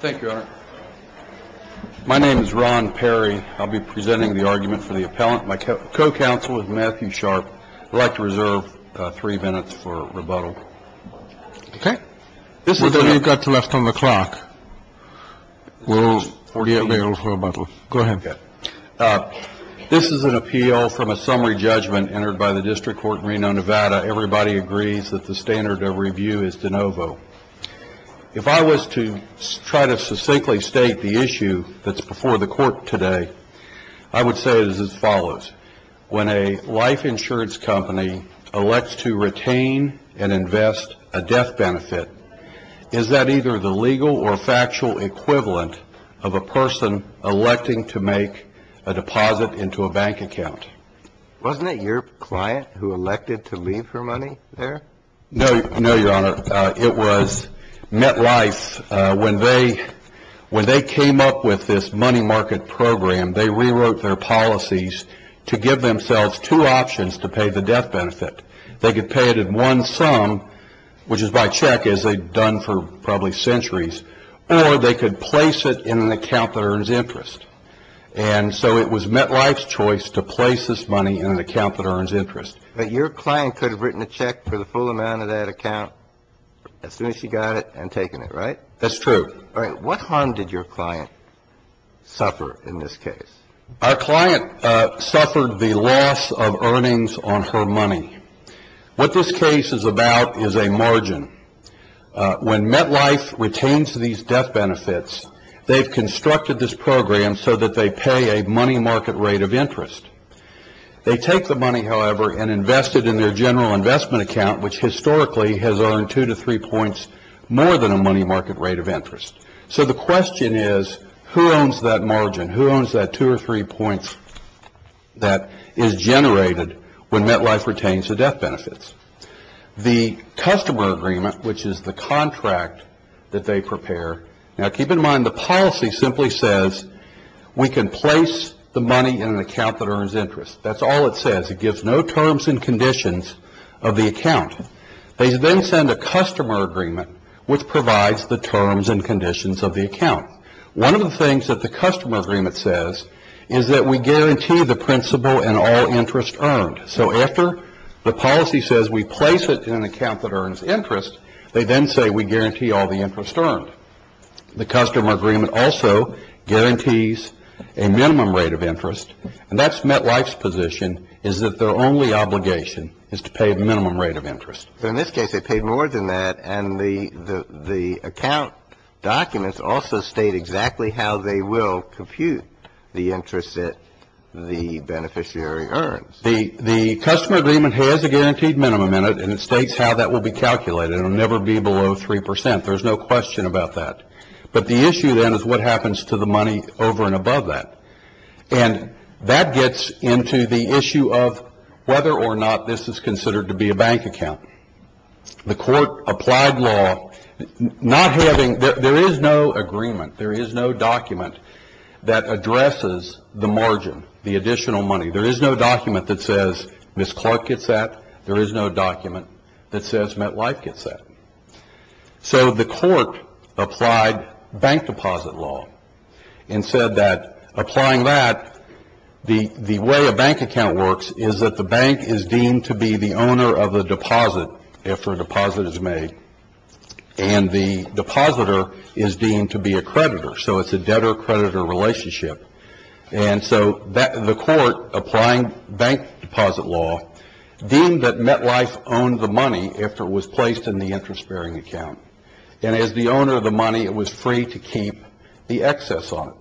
Thank you, Your Honor. My name is Ron Perry. I'll be presenting the argument for the appellant. My co-counsel is Matthew Sharp. I'd like to reserve three minutes for rebuttal. OK. This is what we've got to left on the clock. We're 48 minutes to rebuttal. Go ahead. This is an appeal from a summary judgment entered by the District Court in Reno, Nevada. Everybody agrees that the standard of review is de novo. If I was to try to succinctly state the issue that's before the court today, I would say it is as follows. When a life insurance company elects to retain and invest a death benefit, is that either the legal or factual equivalent of a person electing to make a deposit into a bank account? Wasn't it your client who elected to leave her money there? No, Your Honor. It was MetLife. When they came up with this money market program, they rewrote their policies to give themselves two options to pay the death benefit. They could pay it in one sum, which is by check, as they've done for probably centuries, or they could place it in an account that earns interest. And so it was MetLife's choice to place this money in an account that earns interest. But your client could have written a check for the full amount of that account as soon as she got it and taken it, right? That's true. All right. What harm did your client suffer in this case? Our client suffered the loss of earnings on her money. What this case is about is a margin. When MetLife retains these death benefits, they've constructed this program so that they pay a money market rate of interest. They take the money, however, and invest it in their general investment account, which historically has earned two to three points more than a money market rate of interest. So the question is, who owns that margin? Who owns that two or three points that is generated when MetLife retains the death benefits? The customer agreement, which is the contract that they prepare. Now, keep in mind, the policy simply says we can place the money in an account that earns interest. That's all it says. It gives no terms and conditions of the account. They then send a customer agreement, which provides the terms and conditions of the account. One of the things that the customer agreement says is that we guarantee the principal and all interest earned. So after the policy says we place it in an account that earns interest, they then say we guarantee all the interest earned. The customer agreement also guarantees a minimum rate of interest, and that's MetLife's position is that their only obligation is to pay the minimum rate of interest. So in this case, they paid more than that, and the account documents also state exactly how they will compute the interest that the beneficiary earns. The customer agreement has a guaranteed minimum in it, and it states how that will be calculated. It will never be below 3 percent. There's no question about that. But the issue then is what happens to the money over and above that, and that gets into the issue of whether or not this is considered to be a bank account. The court applied law not having – there is no agreement. There is no document that addresses the margin, the additional money. There is no document that says Ms. Clark gets that. There is no document that says MetLife gets that. So the court applied bank deposit law and said that applying that, the way a bank account works is that the bank is deemed to be the owner of the deposit if a deposit is made, and the depositor is deemed to be a creditor, so it's a debtor-creditor relationship. And so the court, applying bank deposit law, deemed that MetLife owned the money after it was placed in the interest-bearing account, and as the owner of the money, it was free to keep the excess on it.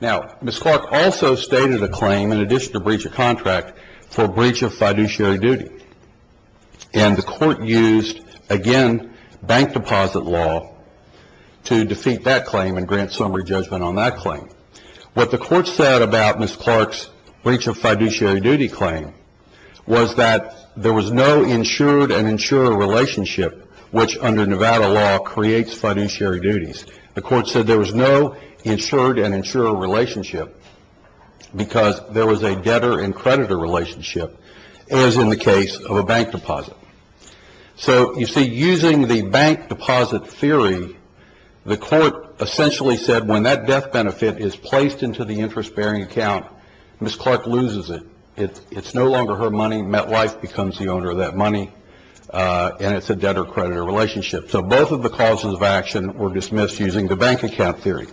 Now, Ms. Clark also stated a claim, in addition to breach of contract, for breach of fiduciary duty, and the court used, again, bank deposit law to defeat that claim and grant summary judgment on that claim. What the court said about Ms. Clark's breach of fiduciary duty claim was that there was no insured and insurer relationship, which under Nevada law creates fiduciary duties. The court said there was no insured and insurer relationship because there was a debtor and creditor relationship, as in the case of a bank deposit. So, you see, using the bank deposit theory, the court essentially said when that death benefit is placed into the interest-bearing account, Ms. Clark loses it. It's no longer her money. MetLife becomes the owner of that money, and it's a debtor-creditor relationship. So both of the causes of action were dismissed using the bank account theory.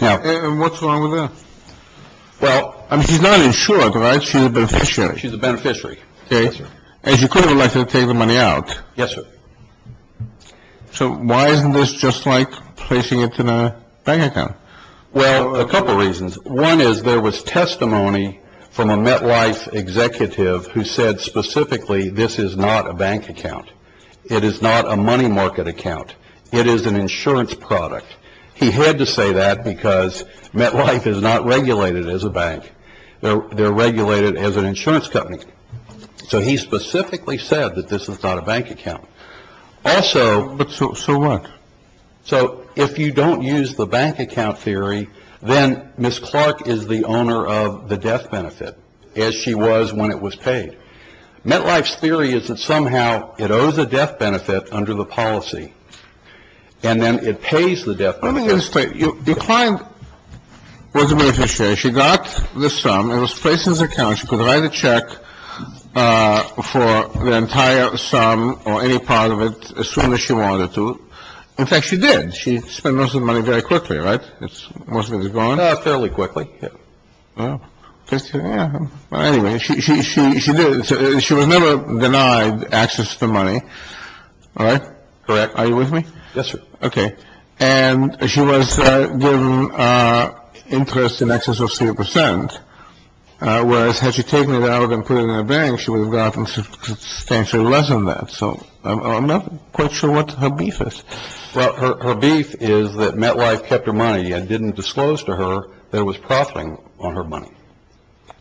Now — And what's wrong with that? Well, I mean, she's not insured, right? She's a beneficiary. She's a beneficiary. Okay. As you could have elected to take the money out. Yes, sir. So why isn't this just like placing it in a bank account? Well, a couple reasons. One is there was testimony from a MetLife executive who said specifically this is not a bank account. It is not a money market account. It is an insurance product. He had to say that because MetLife is not regulated as a bank. They're regulated as an insurance company. So he specifically said that this is not a bank account. Also — But so what? So if you don't use the bank account theory, then Ms. Clark is the owner of the death benefit, as she was when it was paid. MetLife's theory is that somehow it owes a death benefit under the policy, and then it pays the death benefit. Let me just tell you. The client was a beneficiary. She got the sum. It was placed in his account. She could write a check for the entire sum or any part of it as soon as she wanted to. In fact, she did. She spent most of the money very quickly, right? It's — most of it is gone. Fairly quickly, yeah. Well, anyway, she did. She was never denied access to the money. All right? Are you with me? Okay. And she was given interest in excess of three percent, whereas had she taken it out and put it in a bank, she would have gotten substantially less than that. So I'm not quite sure what her beef is. Well, her beef is that MetLife kept her money, yet didn't disclose to her that it was profiting on her money.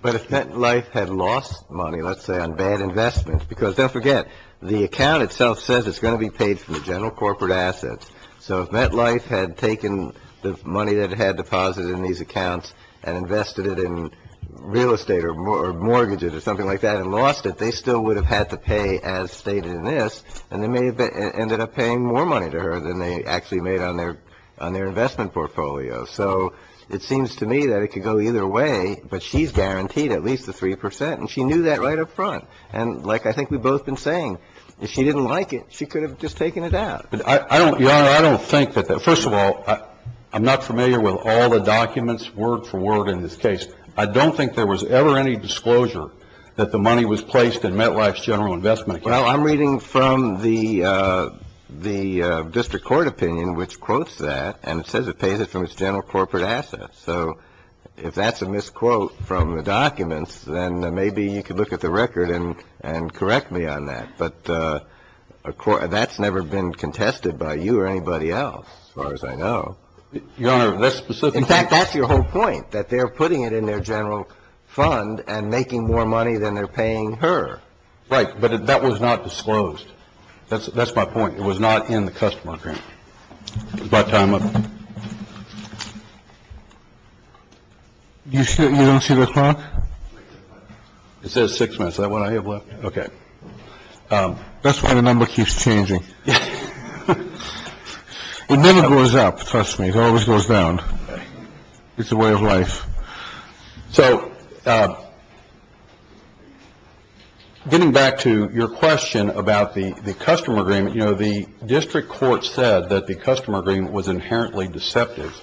But if MetLife had lost money, let's say, on bad investments — because don't forget, the account itself says it's going to be paid from the general corporate assets. So if MetLife had taken the money that it had deposited in these accounts and invested it in real estate or mortgages or something like that and lost it, they still would have had to pay as stated in this, and they may have ended up paying more money to her than they actually made on their investment portfolio. So it seems to me that it could go either way, but she's guaranteed at least the three percent, and she knew that right up front. And like I think we've both been saying, if she didn't like it, she could have just taken it out. But I don't — Your Honor, I don't think that — first of all, I'm not familiar with all the documents word for word in this case. I don't think there was ever any disclosure that the money was placed in MetLife's general investment account. Well, I'm reading from the district court opinion, which quotes that, and it says it pays it from its general corporate assets. So if that's a misquote from the documents, then maybe you could look at the record and correct me on that. But that's never been contested by you or anybody else, as far as I know. Your Honor, that's specifically — In fact, that's your whole point, that they're putting it in their general fund and making more money than they're paying her. Right. But that was not disclosed. That's my point. It was not in the customer grant. Is my time up? You don't see the clock? It says six minutes. Is that what I have left? Okay. That's why the number keeps changing. It never goes up. Trust me, it always goes down. It's a way of life. So getting back to your question about the customer agreement, you know, the district court said that the customer agreement was inherently deceptive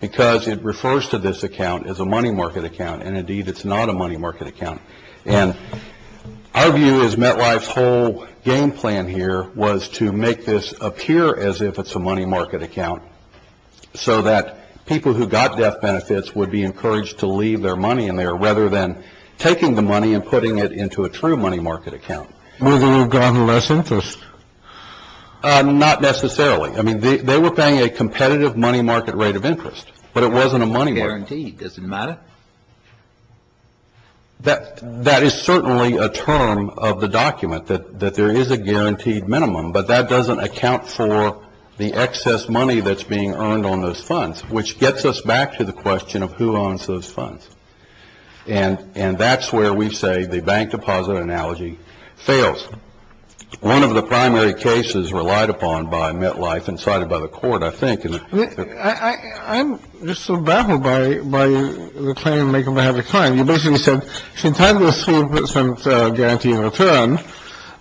because it refers to this account as a money market account. And indeed, it's not a money market account. And our view is MetLife's whole game plan here was to make this appear as if it's a money market account so that people who got death benefits would be encouraged to leave their money in there rather than taking the money and putting it into a true money market account. Would they have gotten less interest? Not necessarily. I mean, they were paying a competitive money market rate of interest, but it wasn't a money market. It's a guarantee. Does it matter? That is certainly a term of the document, that there is a guaranteed minimum, but that doesn't account for the excess money that's being earned on those funds, which gets us back to the question of who owns those funds. And that's where we say the bank deposit analogy fails. One of the primary cases relied upon by MetLife and cited by the court, I think, and the ---- I'm just so baffled by the claim maker by having a client. You basically said she's entitled to a 3% guarantee in return,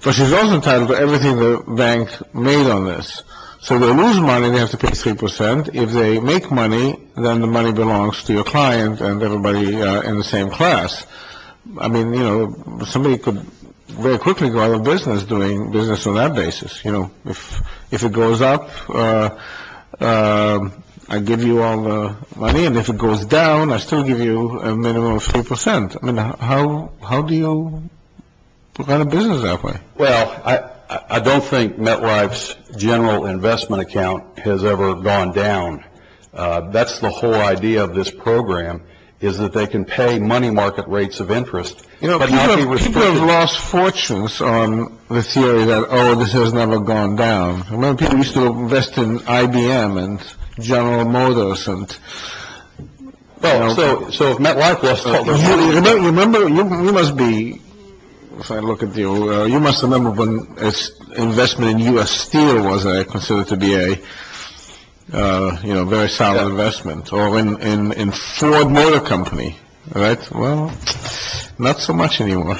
but she's also entitled to everything the bank made on this. So they lose money, they have to pay 3%. If they make money, then the money belongs to your client and everybody in the same class. I mean, you know, somebody could very quickly go out of business doing business on that basis. You know, if it goes up, I give you all the money, and if it goes down, I still give you a minimum of 3%. I mean, how do you run a business that way? Well, I don't think MetLife's general investment account has ever gone down. That's the whole idea of this program, is that they can pay money market rates of interest. You know, people have lost fortunes on the theory that, oh, this has never gone down. Remember, people used to invest in IBM and General Motors and, you know. Oh, so if MetLife wasn't. Remember, you must be, if I look at you, you must remember when investment in U.S. Steel was considered to be a, you know, very solid investment, or in Ford Motor Company. All right. Well, not so much anymore.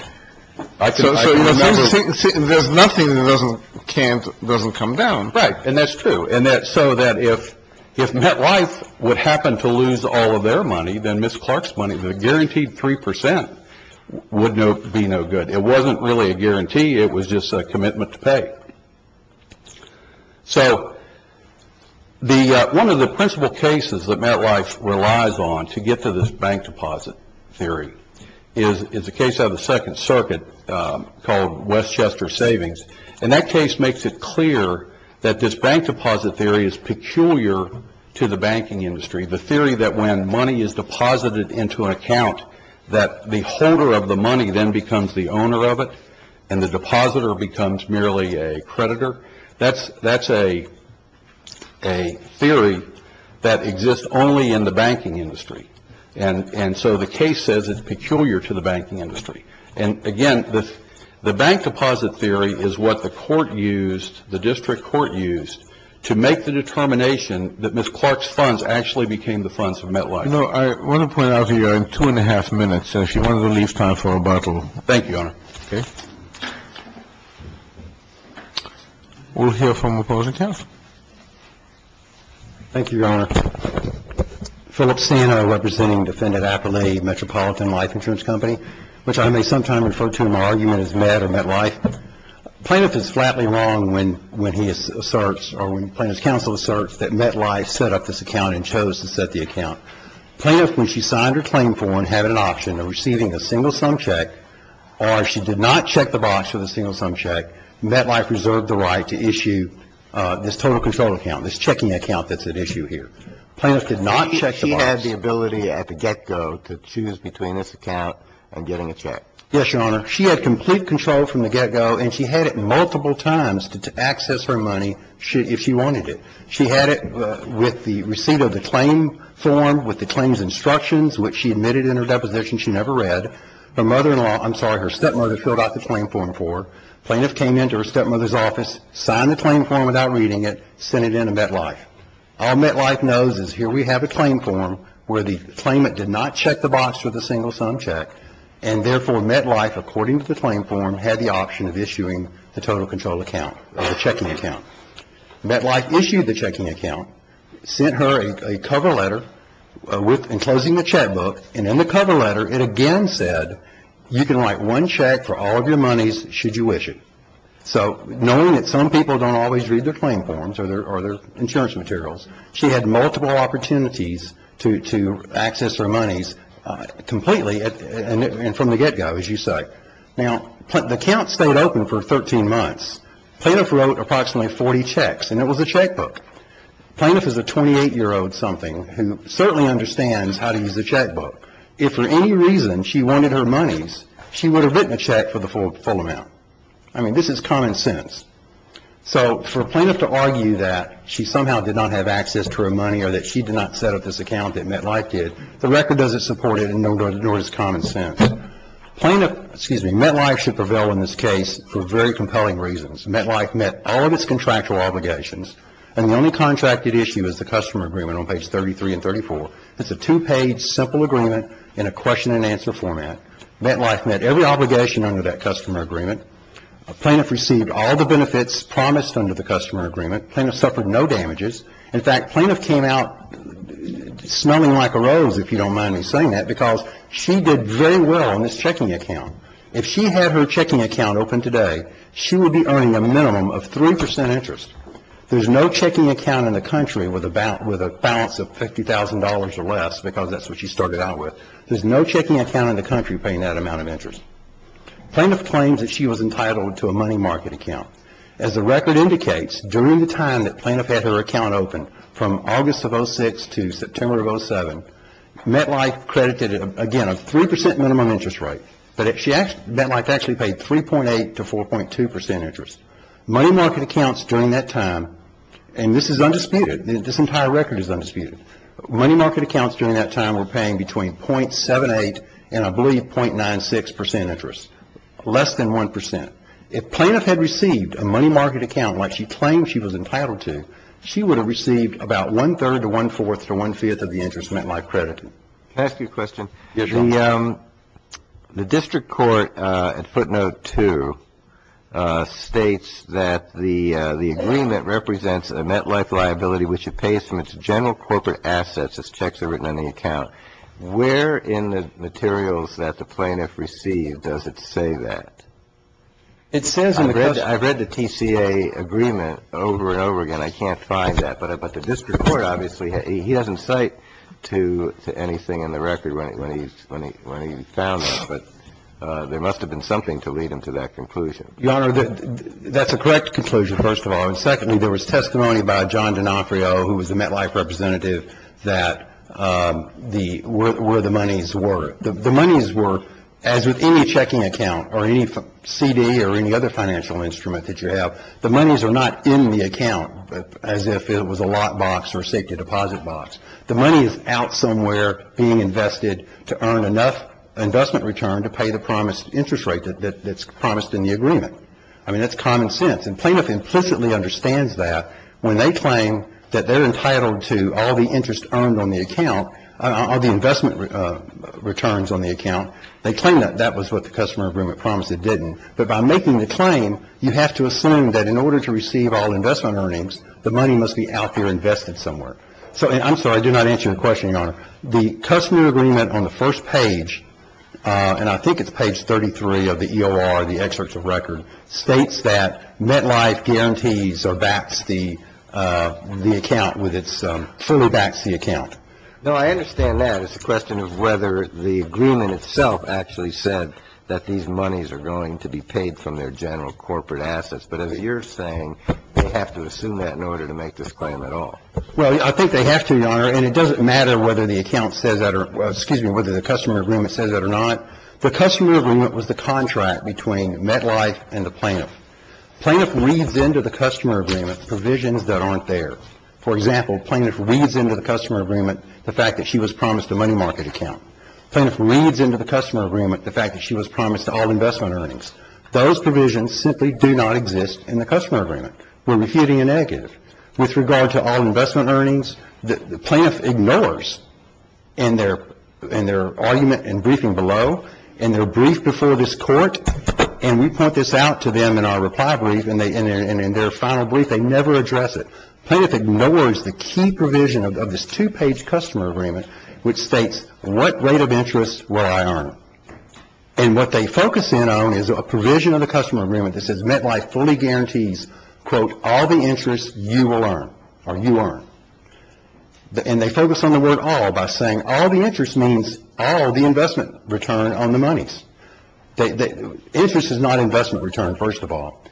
So there's nothing that doesn't come down. Right. And that's true. And so that if MetLife would happen to lose all of their money, then Ms. Clark's money, the guaranteed 3%, would be no good. It wasn't really a guarantee. It was just a commitment to pay. So one of the principal cases that MetLife relies on to get to this bank deposit theory is the case of the Second Circuit called Westchester Savings. And that case makes it clear that this bank deposit theory is peculiar to the banking industry, the theory that when money is deposited into an account, that the holder of the money then becomes the owner of it, and the depositor becomes merely a creditor. That's a theory that exists only in the banking industry. And so the case says it's peculiar to the banking industry. And, again, the bank deposit theory is what the court used, the district court used, to make the determination that Ms. Clark's funds actually became the funds of MetLife. No, I want to point out here, in two and a half minutes, if you wanted to leave time for a bottle. Thank you, Your Honor. Okay. We'll hear from the opposing counsel. Thank you, Your Honor. Philip Sano, representing Defendant Aperle, Metropolitan Life Insurance Company, which I may sometime refer to in my argument as Met or MetLife. Plaintiff is flatly wrong when he asserts or when Plaintiff's counsel asserts that MetLife set up this account and chose to set the account. Plaintiff, when she signed her claim form, had an option of receiving a single-sum check, or she did not check the box for the single-sum check, MetLife reserved the right to issue this total control account, this checking account that's at issue here. Plaintiff did not check the box. She had the ability at the get-go to choose between this account and getting a check. Yes, Your Honor. She had complete control from the get-go, and she had it multiple times to access her money if she wanted it. She had it with the receipt of the claim form, with the claim's instructions, which she admitted in her deposition she never read. Her mother-in-law, I'm sorry, her stepmother filled out the claim form for her. Plaintiff came into her stepmother's office, signed the claim form without reading it, sent it in to MetLife. All MetLife knows is here we have a claim form where the claimant did not check the box for the single-sum check, and therefore MetLife, according to the claim form, had the option of issuing the total control account or the checking account. MetLife issued the checking account, sent her a cover letter enclosing the checkbook, and in the cover letter it again said you can write one check for all of your monies should you wish it. So knowing that some people don't always read their claim forms or their insurance materials, she had multiple opportunities to access her monies completely and from the get-go, as you say. Now, the account stayed open for 13 months. Plaintiff wrote approximately 40 checks, and it was a checkbook. Plaintiff is a 28-year-old something who certainly understands how to use a checkbook. If for any reason she wanted her monies, she would have written a check for the full amount. I mean, this is common sense. So for a plaintiff to argue that she somehow did not have access to her money or that she did not set up this account that MetLife did, the record doesn't support it, nor does common sense. Plaintiff, excuse me, MetLife should prevail in this case for very compelling reasons. MetLife met all of its contractual obligations, and the only contracted issue is the customer agreement on page 33 and 34. It's a two-page simple agreement in a question-and-answer format. MetLife met every obligation under that customer agreement. Plaintiff received all the benefits promised under the customer agreement. Plaintiff suffered no damages. In fact, plaintiff came out smelling like a rose, if you don't mind me saying that, because she did very well on this checking account. If she had her checking account open today, she would be earning a minimum of 3 percent interest. There's no checking account in the country with a balance of $50,000 or less, because that's what she started out with. There's no checking account in the country paying that amount of interest. Plaintiff claims that she was entitled to a money market account. As the record indicates, during the time that plaintiff had her account open, from August of 2006 to September of 2007, MetLife credited, again, a 3 percent minimum interest rate, but MetLife actually paid 3.8 to 4.2 percent interest. Money market accounts during that time, and this is undisputed, this entire record is undisputed, money market accounts during that time were paying between .78 and I believe .96 percent interest, less than 1 percent. If plaintiff had received a money market account like she claimed she was entitled to, she would have received about one-third to one-fourth to one-fifth of the interest MetLife credited. Can I ask you a question? Sure. The district court at footnote two states that the agreement represents a MetLife liability which it pays from its general corporate assets as checks are written on the account. Where in the materials that the plaintiff received does it say that? It says in the question. I've read the TCA agreement over and over again. I can't find that. But the district court obviously, he doesn't cite to anything in the record when he found that. But there must have been something to lead him to that conclusion. Your Honor, that's a correct conclusion, first of all. And secondly, there was testimony by John D'Onofrio, who was the MetLife representative, that the where the monies were. The monies were, as with any checking account or any CD or any other financial instrument that you have, the monies are not in the account as if it was a lockbox or safety deposit box. The money is out somewhere being invested to earn enough investment return to pay the promised interest rate that's promised in the agreement. I mean, that's common sense. And plaintiff implicitly understands that when they claim that they're entitled to all the interest earned on the account, all the investment returns on the account. They claim that that was what the customer agreement promised it didn't. But by making the claim, you have to assume that in order to receive all investment earnings, the money must be out there invested somewhere. So I'm sorry, I did not answer your question, Your Honor. The customer agreement on the first page, and I think it's page 33 of the EOR, the excerpt of record, states that MetLife guarantees or backs the account with its fully backs the account. No, I understand that. It's a question of whether the agreement itself actually said that these monies are going to be paid from their general corporate assets. But as you're saying, they have to assume that in order to make this claim at all. Well, I think they have to, Your Honor. And it doesn't matter whether the account says that or, excuse me, whether the customer agreement says that or not. The customer agreement was the contract between MetLife and the plaintiff. Plaintiff reads into the customer agreement provisions that aren't there. For example, plaintiff reads into the customer agreement the fact that she was promised a money market account. Plaintiff reads into the customer agreement the fact that she was promised all investment earnings. Those provisions simply do not exist in the customer agreement. We're refuting a negative. With regard to all investment earnings, the plaintiff ignores in their argument and briefing below, in their brief before this court, and we point this out to them in our reply brief, and in their final brief, they never address it. Plaintiff ignores the key provision of this two-page customer agreement, which states what rate of interest will I earn? And what they focus in on is a provision of the customer agreement that says MetLife fully guarantees, quote, all the interest you will earn, or you earn. And they focus on the word all by saying all the interest means all the investment return on the monies. Interest is not investment return, first of all.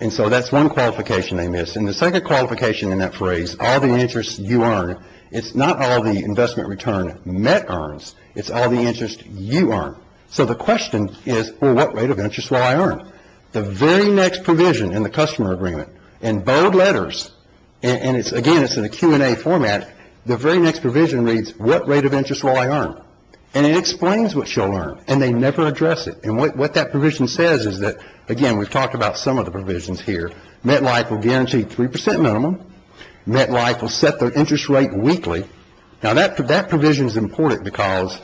And so that's one qualification they miss. And the second qualification in that phrase, all the interest you earn, it's not all the investment return Met earns. It's all the interest you earn. So the question is, well, what rate of interest will I earn? The very next provision in the customer agreement, in bold letters, and again, it's in a Q&A format, the very next provision reads, what rate of interest will I earn? And it explains what you'll earn, and they never address it. And what that provision says is that, again, we've talked about some of the provisions here. MetLife will guarantee 3% minimum. MetLife will set their interest rate weekly. Now, that provision is important because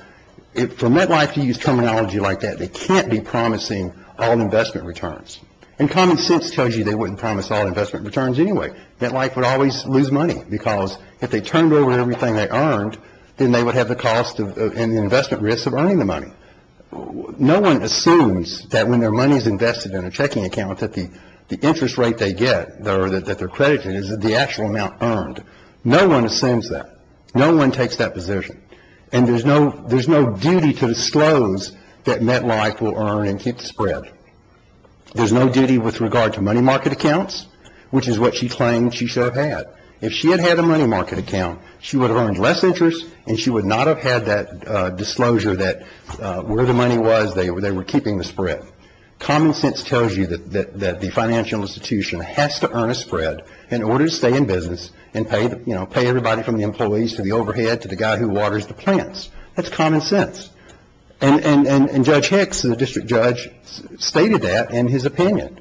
for MetLife to use terminology like that, they can't be promising all investment returns. And common sense tells you they wouldn't promise all investment returns anyway. MetLife would always lose money because if they turned over everything they earned, then they would have the cost and the investment risk of earning the money. No one assumes that when their money is invested in a checking account, that the interest rate they get or that they're credited is the actual amount earned. No one assumes that. No one takes that position. And there's no duty to disclose that MetLife will earn and keep the spread. There's no duty with regard to money market accounts, which is what she claimed she should have had. If she had had a money market account, she would have earned less interest, and she would not have had that disclosure that where the money was, they were keeping the spread. Common sense tells you that the financial institution has to earn a spread in order to stay in business and pay everybody from the employees to the overhead to the guy who waters the plants. That's common sense. And Judge Hicks, the district judge, stated that in his opinion.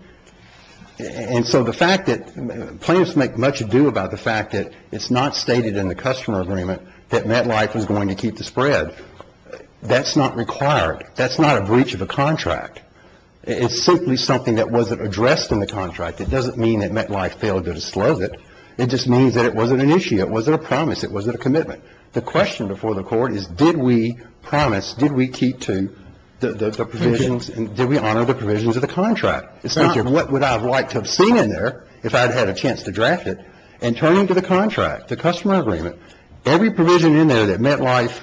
And so the fact that plans make much ado about the fact that it's not stated in the customer agreement that MetLife is going to keep the spread, that's not required. That's not a breach of a contract. It's simply something that wasn't addressed in the contract. It doesn't mean that MetLife failed to disclose it. It just means that it wasn't an issue. It wasn't a promise. It wasn't a commitment. The question before the court is did we promise, did we keep to the provisions, and did we honor the provisions of the contract? And what would I have liked to have seen in there if I had had a chance to draft it? And turning to the contract, the customer agreement, every provision in there that MetLife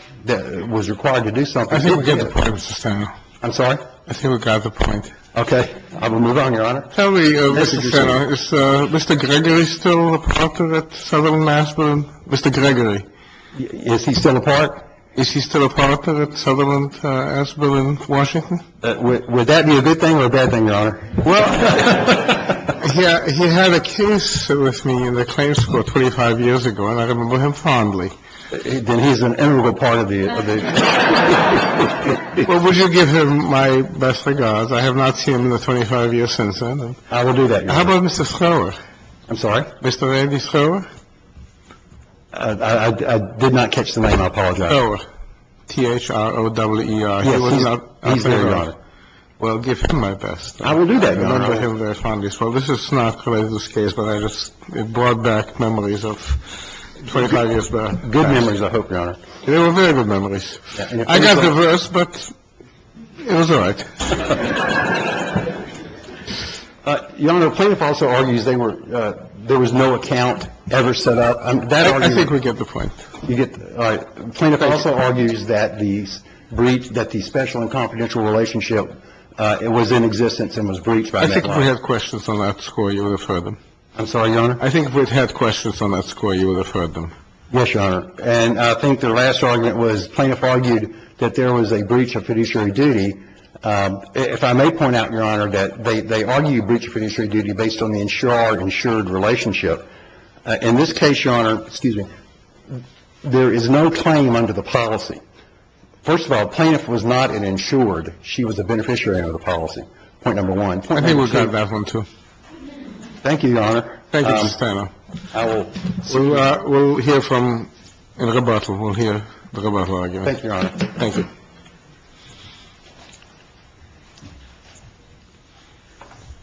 was required to do something. I think we got the point, Mr. Sanner. I'm sorry? I think we got the point. Okay. I will move on, Your Honor. Tell me, Mr. Sanner, is Mr. Gregory still a partner at Sutherland Aspen? Mr. Gregory. Is he still a partner? Is he still a partner at Sutherland Aspen in Washington? Would that be a good thing or a bad thing, Your Honor? Well, he had a case with me in the claims court 25 years ago, and I remember him fondly. Then he's an integral part of the case. Well, would you give him my best regards? I have not seen him in the 25 years since then. I will do that, Your Honor. How about Mr. Schroer? I'm sorry? Mr. Randy Schroer? I did not catch the name. I apologize. Schroer. T-H-R-O-W-E-R. T-H-R-O-W-E-R. Well, give him my best. I will do that, Your Honor. I remember him very fondly. Schroer. This is not related to this case, but I just brought back memories of 25 years back. Good memories, I hope, Your Honor. They were very good memories. I got the verse, but it was all right. Your Honor, the plaintiff also argues there was no account ever set up. I think we get the point. All right. The plaintiff also argues that the breach, that the special and confidential relationship was in existence and was breached by Medline. I think if we had questions on that score, you would have heard them. I'm sorry, Your Honor? I think if we had questions on that score, you would have heard them. Yes, Your Honor. And I think the last argument was plaintiff argued that there was a breach of fiduciary duty. If I may point out, Your Honor, that they argued breach of fiduciary duty based on the insured-insured relationship. In this case, Your Honor, excuse me, there is no claim under the policy. First of all, the plaintiff was not an insured. She was a beneficiary under the policy. Point number one. I think we got that one, too. Thank you, Your Honor. Thank you, Mr. Tanner. We'll hear from the rebuttal. We'll hear the rebuttal argument. Thank you, Your Honor. Thank you.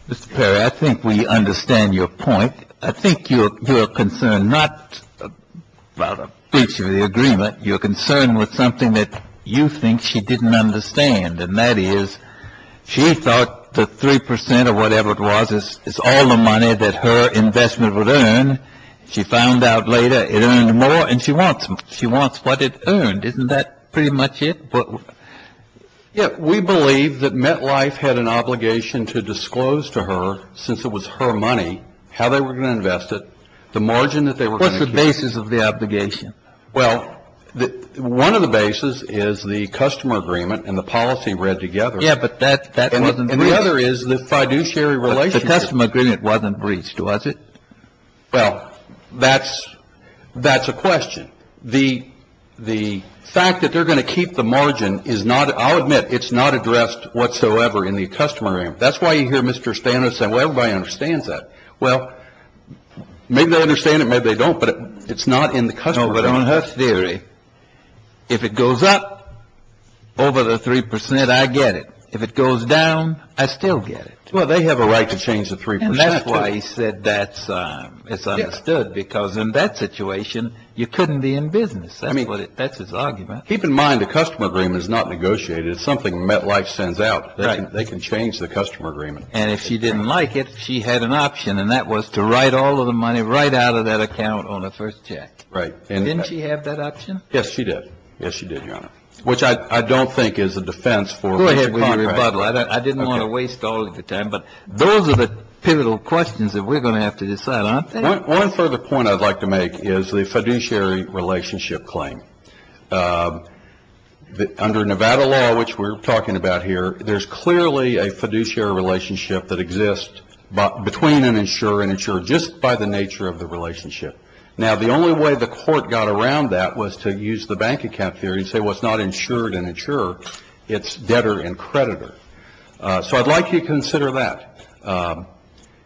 Mr. Perry, I think we understand your point. I think you're concerned not about a breach of the agreement. You're concerned with something that you think she didn't understand, and that is she thought the 3 percent or whatever it was is all the money that her investment would earn. She found out later it earned more, and she wants what it earned. Isn't that pretty much it? Yeah. We believe that MetLife had an obligation to disclose to her, since it was her money, how they were going to invest it, the margin that they were going to keep. What's the basis of the obligation? Well, one of the bases is the customer agreement and the policy read together. Yeah, but that wasn't breached. And the other is the fiduciary relationship. The customer agreement wasn't breached, was it? Well, that's a question. The fact that they're going to keep the margin is not, I'll admit, it's not addressed whatsoever in the customer agreement. That's why you hear Mr. Stano say, well, everybody understands that. Well, maybe they understand it, maybe they don't, but it's not in the customer agreement. No, but on her theory, if it goes up over the 3 percent, I get it. If it goes down, I still get it. Well, they have a right to change the 3 percent, too. I said that's understood because in that situation, you couldn't be in business. That's his argument. Keep in mind, the customer agreement is not negotiated. It's something MetLife sends out. They can change the customer agreement. And if she didn't like it, she had an option, and that was to write all of the money right out of that account on her first check. Right. Didn't she have that option? Yes, she did. Yes, she did, Your Honor, which I don't think is a defense for a contract. I didn't want to waste all of your time. But those are the pivotal questions that we're going to have to decide on. One further point I'd like to make is the fiduciary relationship claim. Under Nevada law, which we're talking about here, there's clearly a fiduciary relationship that exists between an insurer and insurer just by the nature of the relationship. Now, the only way the court got around that was to use the bank account theory and say what's not insured and insurer, it's debtor and creditor. So I'd like you to consider that.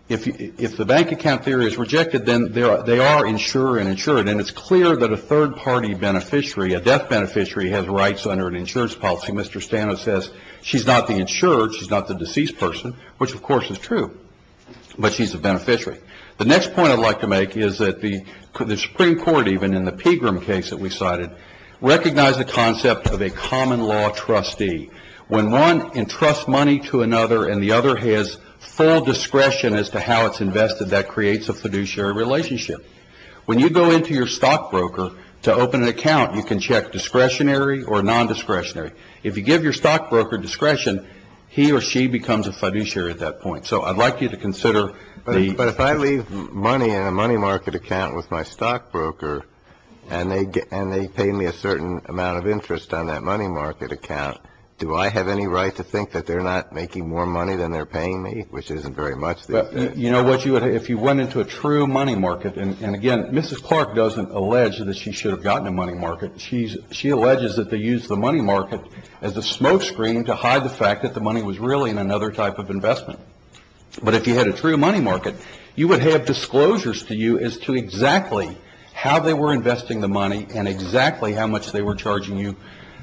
If the bank account theory is rejected, then they are insurer and insurer. And it's clear that a third-party beneficiary, a debt beneficiary, has rights under an insurance policy. Mr. Stano says she's not the insurer, she's not the deceased person, which, of course, is true. But she's a beneficiary. The next point I'd like to make is that the Supreme Court, even in the Pegram case that we cited, recognized the concept of a common law trustee. When one entrusts money to another and the other has full discretion as to how it's invested, that creates a fiduciary relationship. When you go into your stockbroker to open an account, you can check discretionary or nondiscretionary. If you give your stockbroker discretion, he or she becomes a fiduciary at that point. So I'd like you to consider the ---- But if I leave money in a money market account with my stockbroker and they pay me a certain amount of interest on that money market account, do I have any right to think that they're not making more money than they're paying me, which isn't very much? You know what, if you went into a true money market, and, again, Mrs. Clark doesn't allege that she should have gotten a money market. She alleges that they used the money market as a smoke screen to hide the fact that the money was really in another type of investment. But if you had a true money market, you would have disclosures to you as to exactly how they were investing the money and exactly how much they were charging you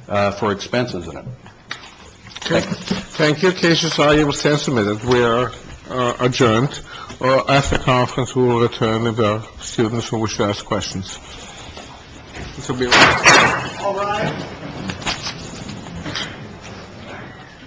for expenses in it. Thank you. Thank you. Cases are able to stand submitted. We are adjourned. After conference, we will return if there are students who wish to ask questions. This will be a wrap. All rise.